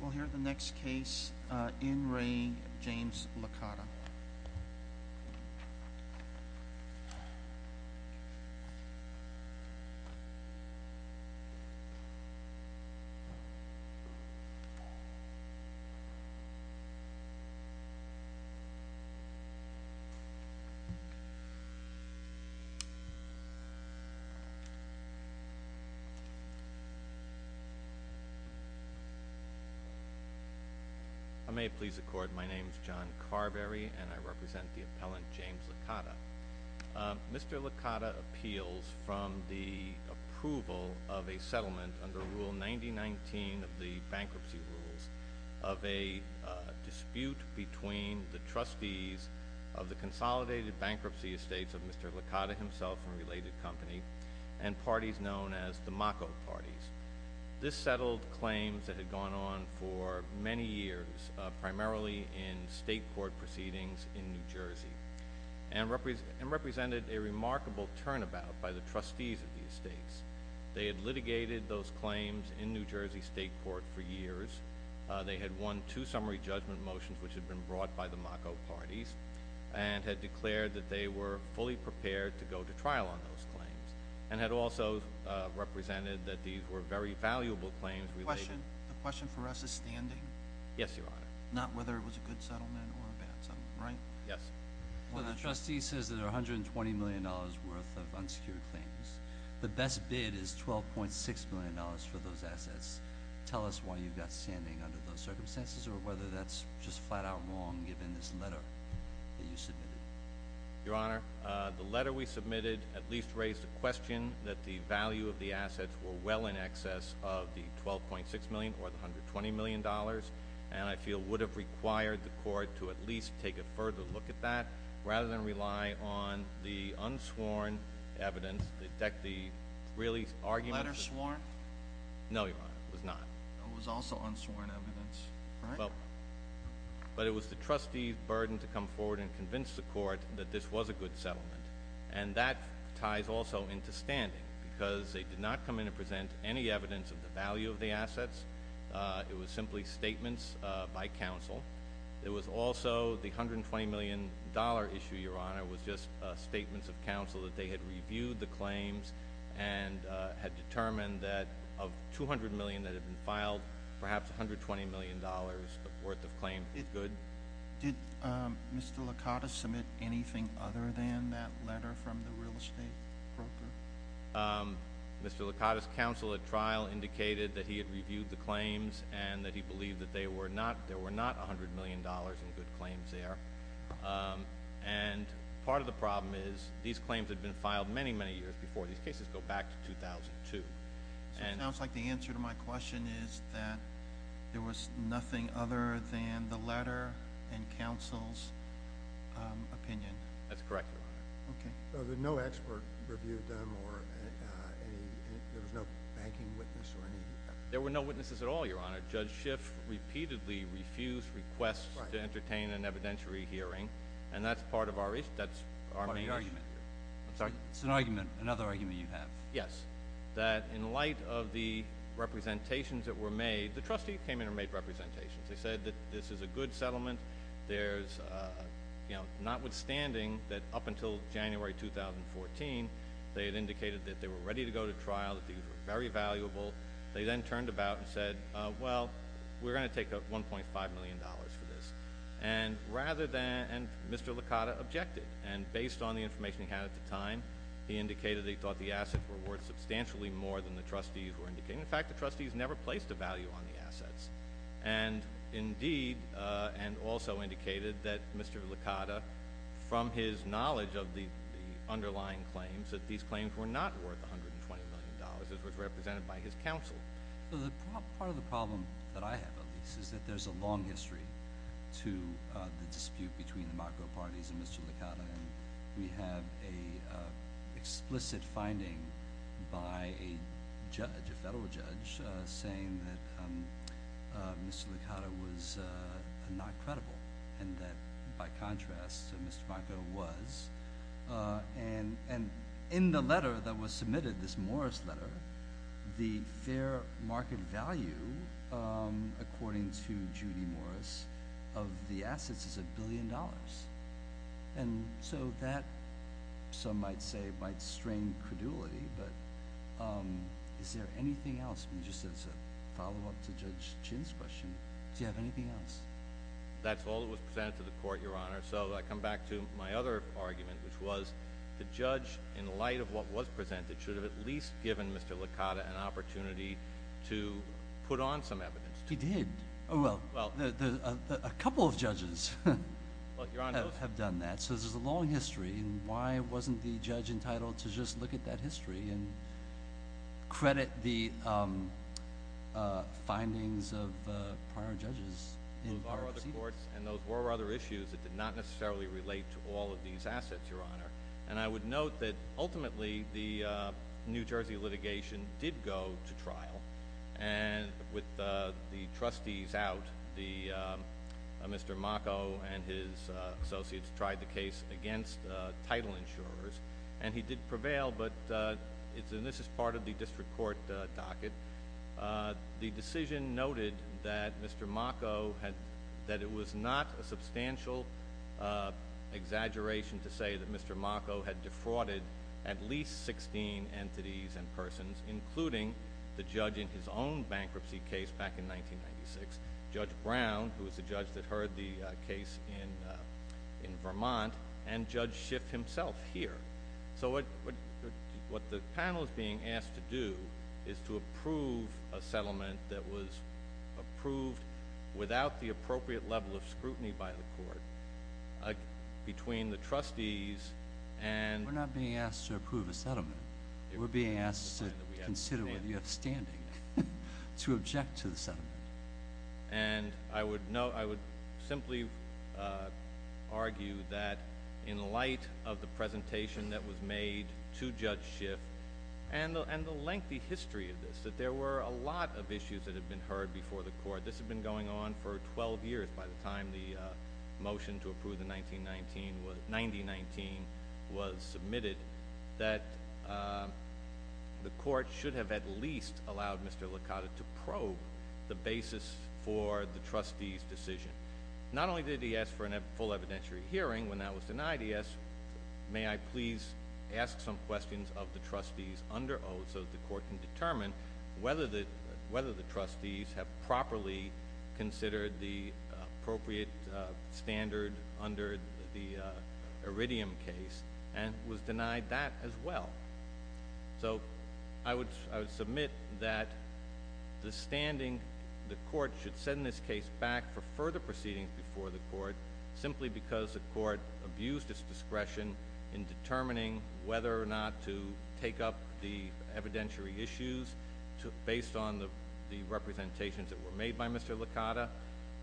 We'll hear the next case in Re, James Licata. I may please accord my name is John Carberry and I represent the appellant James Licata. Mr. Licata appeals from the approval of a settlement under Rule 9019 of the bankruptcy rules of a dispute between the trustees of the consolidated bankruptcy estates of Mr. Licata himself and related company and parties known as the Mako parties. This settled claims that had gone on for many years primarily in state court proceedings in New Jersey and represented a remarkable turnabout by the trustees of these states. They had litigated those claims in New Jersey State Court for years. They had won two summary judgment motions which had been brought by the Mako parties and had declared that they were fully prepared to go to trial on those claims and had also represented that these were very valuable claims. The question for us is standing? Yes, your honor. Not whether it was a good settlement or a bad settlement, right? Yes. The trustee says there are a hundred and twenty million dollars worth of unsecured claims. The best bid is twelve point six million dollars for those assets. Tell us why you've got standing under those circumstances or whether that's just flat-out wrong given this letter that you submitted? Your honor, the letter we submitted said that the value of the assets were well in excess of the twelve point six million or the hundred twenty million dollars and I feel would have required the court to at least take a further look at that rather than rely on the unsworn evidence. The really argument... Letter sworn? No, your honor. It was not. It was also unsworn evidence, right? But it was the trustees burden to come forward and convince the because they did not come in and present any evidence of the value of the assets. It was simply statements by counsel. It was also the hundred and twenty million dollar issue, your honor, was just statements of counsel that they had reviewed the claims and had determined that of two hundred million that have been filed, perhaps a hundred twenty million dollars worth of claim is good. Did Mr. Licata submit anything other than that letter from the real estate broker? Mr. Licata's counsel at trial indicated that he had reviewed the claims and that he believed that they were not there were not a hundred million dollars in good claims there and part of the problem is these claims had been filed many many years before. These cases go back to 2002. It sounds like the answer to my question is that there was nothing other than the letter and that's correct, your honor. No expert reviewed them or there was no banking witness? There were no witnesses at all, your honor. Judge Schiff repeatedly refused requests to entertain an evidentiary hearing and that's part of our issue. That's our main argument. I'm sorry, it's an argument, another argument you have. Yes, that in light of the representations that were made, the trustee came in and made representations. They said that this is a good settlement. There's, you know, not withstanding that up until January 2014, they had indicated that they were ready to go to trial, that these were very valuable. They then turned about and said, well, we're going to take up 1.5 million dollars for this and rather than, and Mr. Licata objected and based on the information he had at the time, he indicated they thought the assets were worth substantially more than the trustees were indicating. In fact, the trustees never placed a value on the from his knowledge of the underlying claims that these claims were not worth 120 million dollars as was represented by his counsel. So the part of the problem that I have, at least, is that there's a long history to the dispute between the macro parties and Mr. Licata. We have a explicit finding by a judge, a federal judge, saying that Mr. Licata was not credible and that by contrast, Mr. Marco was. And in the letter that was submitted, this Morris letter, the fair market value, according to Judy Morris, of the assets is a billion dollars. And so that, some might say, might strain credulity, but is there anything else? Just as a follow-up to Judge Chin's question, do you have anything else? That's all that was presented to the court, Your Honor. So I come back to my other argument, which was the judge, in light of what was presented, should have at least given Mr. Licata an opportunity to put on some evidence. He did. Well, a couple of judges have done that. So there's a long history and why wasn't the judge entitled to just look at that history and credit the findings of prior judges? And those were other issues that did not necessarily relate to all of these assets, Your Honor. And I would note that ultimately, the New Jersey litigation did go to trial and with the trustees out, Mr. Marco and his associates tried the case against title insurers and he did prevail, but this is part of the district court docket. The decision noted that Mr. Marco had, that it was not a substantial exaggeration to say that Mr. Marco had defrauded at least 16 entities and persons, including the judge in his own bankruptcy case back in 1996, Judge Brown, who was the judge that heard the case in Vermont, and Judge Schiff himself here. So what the panel is being asked to do is to approve a settlement that was approved without the appropriate level of scrutiny by the court between the trustees and... We're not being asked to approve a settlement. We're being asked to consider whether you have standing to object to the settlement. And I would simply argue that in light of the presentation that was made to the panel and the lengthy history of this, that there were a lot of issues that have been heard before the court. This had been going on for 12 years by the time the motion to approve the 1919 was submitted, that the court should have at least allowed Mr. Licata to probe the basis for the trustees' decision. Not only did he ask for a full evidentiary hearing when that was denied, he asked, may I please ask some questions of the trustees under oath so that the court can determine whether the trustees have properly considered the appropriate standard under the Iridium case, and was denied that as well. So I would submit that the standing, the court should send this case back for discretion in determining whether or not to take up the evidentiary issues based on the representations that were made by Mr. Licata,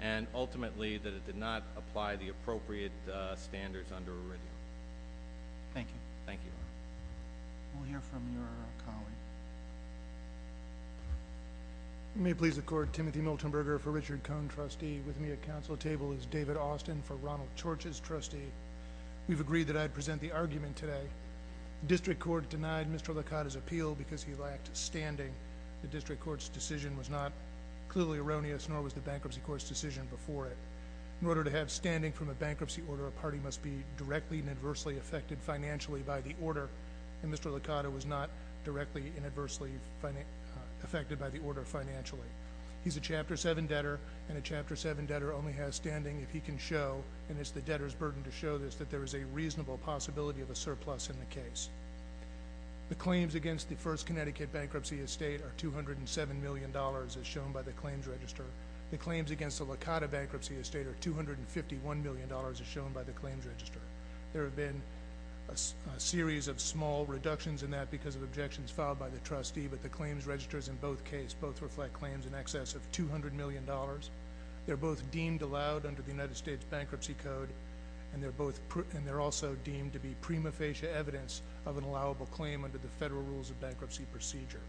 and ultimately that it did not apply the appropriate standards under Iridium. Thank you. Thank you. We'll hear from your colleague. May it please the court, Timothy Miltenberger for Richard Cohn, trustee. With me at present the argument today, district court denied Mr. Licata's appeal because he lacked standing. The district court's decision was not clearly erroneous, nor was the bankruptcy court's decision before it. In order to have standing from a bankruptcy order, a party must be directly and adversely affected financially by the order, and Mr. Licata was not directly and adversely affected by the order financially. He's a Chapter 7 debtor, and a Chapter 7 debtor only has standing if he can show, and it's the debtor's burden to show this, that there is a reasonable possibility of a surplus in the case. The claims against the First Connecticut Bankruptcy Estate are $207 million as shown by the claims register. The claims against the Licata Bankruptcy Estate are $251 million as shown by the claims register. There have been a series of small reductions in that because of objections filed by the trustee, but the claims registers in both case both reflect claims in excess of $200 million. They're both deemed allowed under the United States Bankruptcy Code, and they're also deemed to be prima facie evidence of an allowable claim under the Federal Rules of Bankruptcy Procedure.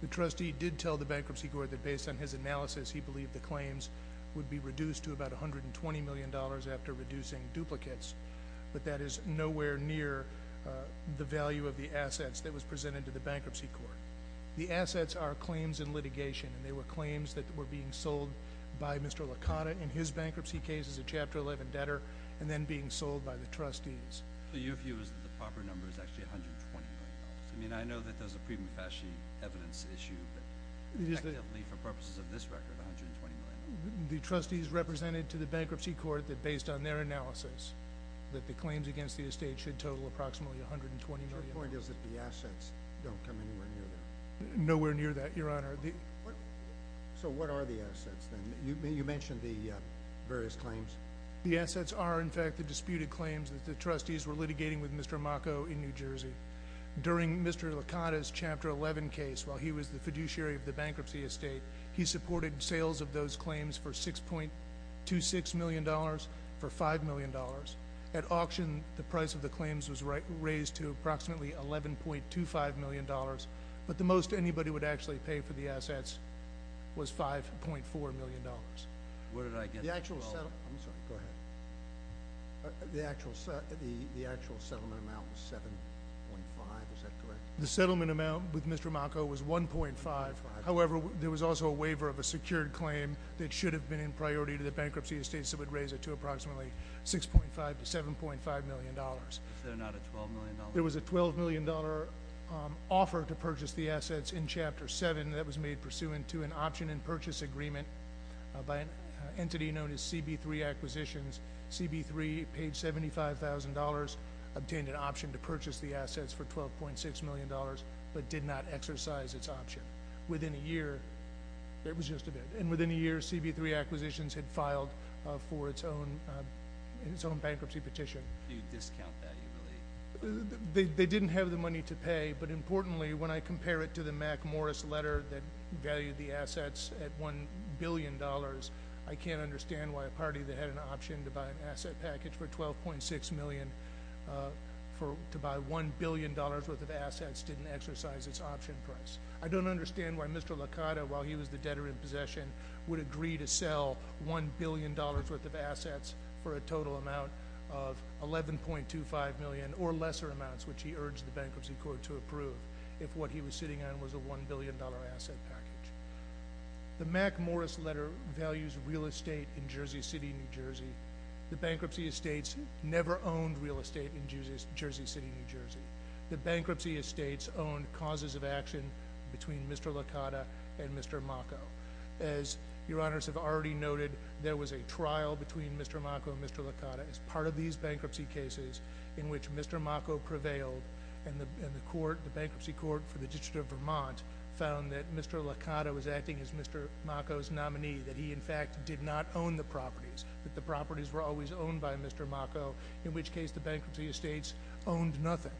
The trustee did tell the bankruptcy court that based on his analysis, he believed the claims would be reduced to about $120 million after reducing duplicates, but that is nowhere near the value of the assets that was presented to the bankruptcy court. The assets are claims in litigation, and they were claims that were being sold by Mr. Licata in his case, and they were claims that were being sold by the trustees. So your view is that the proper number is actually $120 million? I mean, I know that there's a prima facie evidence issue, but technically, for purposes of this record, $120 million? The trustees represented to the bankruptcy court that based on their analysis, that the claims against the estate should total approximately $120 million. So your point is that the assets don't come anywhere near that? Nowhere near that, Your Honor. So what are the assets, then? You mentioned the various claims. The assets are, in fact, the disputed claims that the trustees were litigating with Mr. Macco in New Jersey. During Mr. Licata's Chapter 11 case, while he was the fiduciary of the bankruptcy estate, he supported sales of those claims for $6.26 million for $5 million. At auction, the price of the claims was raised to approximately $11.25 million, but the most anybody would actually pay for the assets was $5.4 million. The actual settlement amount was $7.5 million, is that correct? The settlement amount with Mr. Macco was $1.5 million. However, there was also a waiver of a secured claim that should have been in priority to the bankruptcy estate, so it would raise it to approximately $6.5 million to $7.5 million. Was there not a $12 million offer? There was a $12 million offer to purchase the assets in Chapter 7 that was made pursuant to an option and purchase agreement. By an entity known as CB3 Acquisitions, CB3 paid $75,000, obtained an option to purchase the assets for $12.6 million, but did not exercise its option. Within a year, it was just a bid. And within a year, CB3 Acquisitions had filed for its own bankruptcy petition. Do you discount that? They didn't have the money to pay, but importantly, when I compare it to the Mac Morris letter that valued the assets at $1 billion, I can't understand why a party that had an option to buy an asset package for $12.6 million to buy $1 billion worth of assets didn't exercise its option price. I don't understand why Mr. Licata, while he was the debtor in possession, would agree to sell $1 billion worth of assets for a total amount of $11.25 million, or lesser amounts, which he urged the Bankruptcy Court to approve, if what he was sitting on was a $1 billion asset package. The Mac Morris letter values real estate in Jersey City, New Jersey. The bankruptcy estates never owned real estate in Jersey City, New Jersey. The bankruptcy estates owned causes of action between Mr. Licata and Mr. Maco. As your honors have already noted, there was a trial between Mr. Maco and Mr. Licata as part of these bankruptcy cases in which Mr. Maco prevailed, and the bankruptcy court for the District of Vermont found that Mr. Licata was acting as Mr. Maco's nominee, that he, in fact, did not own the properties, that the properties were always owned by Mr. Maco, in which case the bankruptcy estates owned nothing.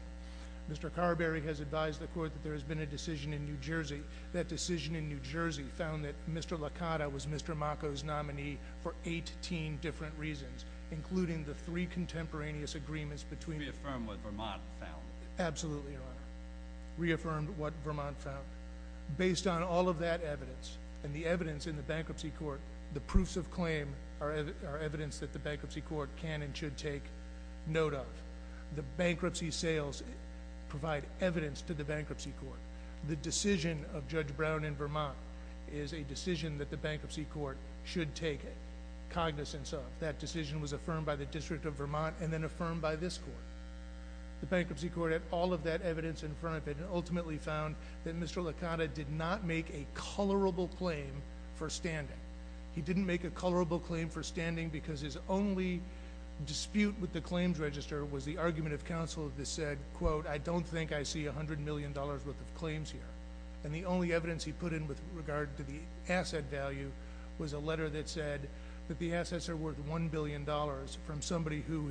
Mr. Carberry has advised the court that there has been a decision in New Jersey. That decision in New Jersey found that Mr. Licata was Mr. Maco's nominee for 18 different reasons, including the three contemporaneous agreements between- Reaffirmed what Vermont found. Absolutely, your honor. Reaffirmed what Vermont found. Based on all of that evidence, and the evidence in the bankruptcy court, the proofs of claim are evidence that the bankruptcy court can and should take note of. The bankruptcy sales provide evidence to the bankruptcy court. The decision of Judge Brown in Vermont is a decision that the bankruptcy court should take cognizance of. That decision was affirmed by the District of Vermont, and then affirmed by this court. The bankruptcy court had all of that evidence in front of it, and ultimately found that Mr. Licata did not make a colorable claim for standing. He didn't make a colorable claim for standing because his only dispute with the claims register was the argument of counsel that said, quote, I don't think I see $100 million worth of claims here. And the only evidence he put in with regard to the asset value was a letter that said that the assets are worth $1 billion from somebody who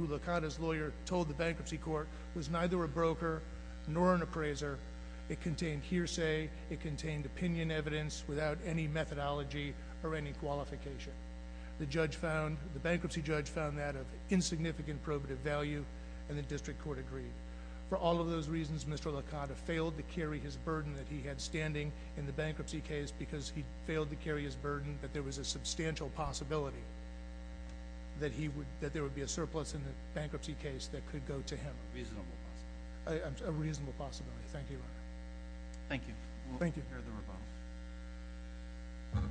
Licata's lawyer told the bankruptcy court was neither a broker nor an appraiser. It contained hearsay. It contained opinion evidence without any methodology or any qualification. The bankruptcy judge found that of insignificant probative value, and the district court agreed. For all of those reasons, Mr. Licata failed to carry his burden that he had standing in the bankruptcy case because he failed to carry his burden that there was a substantial possibility that there would be a surplus in the bankruptcy case that could go to him. A reasonable possibility. A reasonable possibility. Thank you, Your Honor. Thank you. Thank you.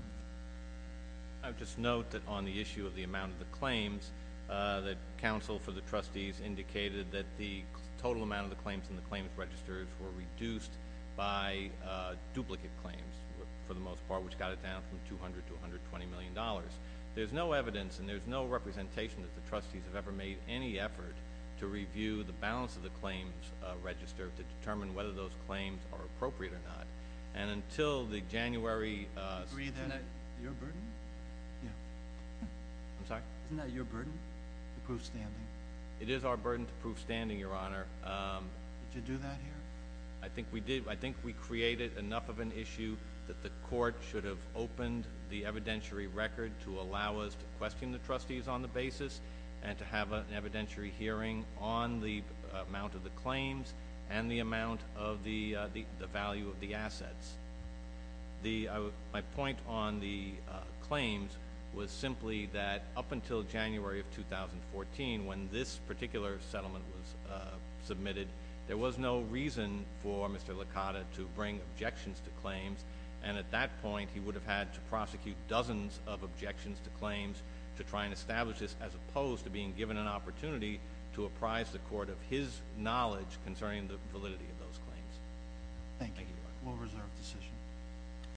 I would just note that on the issue of the amount of the claims, that counsel for the trustees indicated that the total amount of the claims and the claims registers were reduced by duplicate claims for the most part, which got it down from $200 to $120 million. There's no evidence and there's no representation that the trustees have ever made any effort to review the balance of the claims register to determine whether those claims are appropriate or not. And until the January— Your burden? Yeah. I'm sorry? Isn't that your burden to prove standing? It is our burden to prove standing, Your Honor. Did you do that here? I think we did. I think we created enough of an issue that the court should have opened the evidentiary record to allow us to question the trustees on the basis and to have an evidentiary hearing on the amount of the claims and the amount of the value of the assets. My point on the claims was simply that up until January of 2014, when this particular settlement was submitted, there was no reason for Mr. Licata to bring objections to claims, and at that point he would have had to prosecute dozens of objections to claims to try and establish this as opposed to being given an opportunity to apprise the court of his knowledge concerning the validity of those claims. Thank you. It was a well-reserved decision.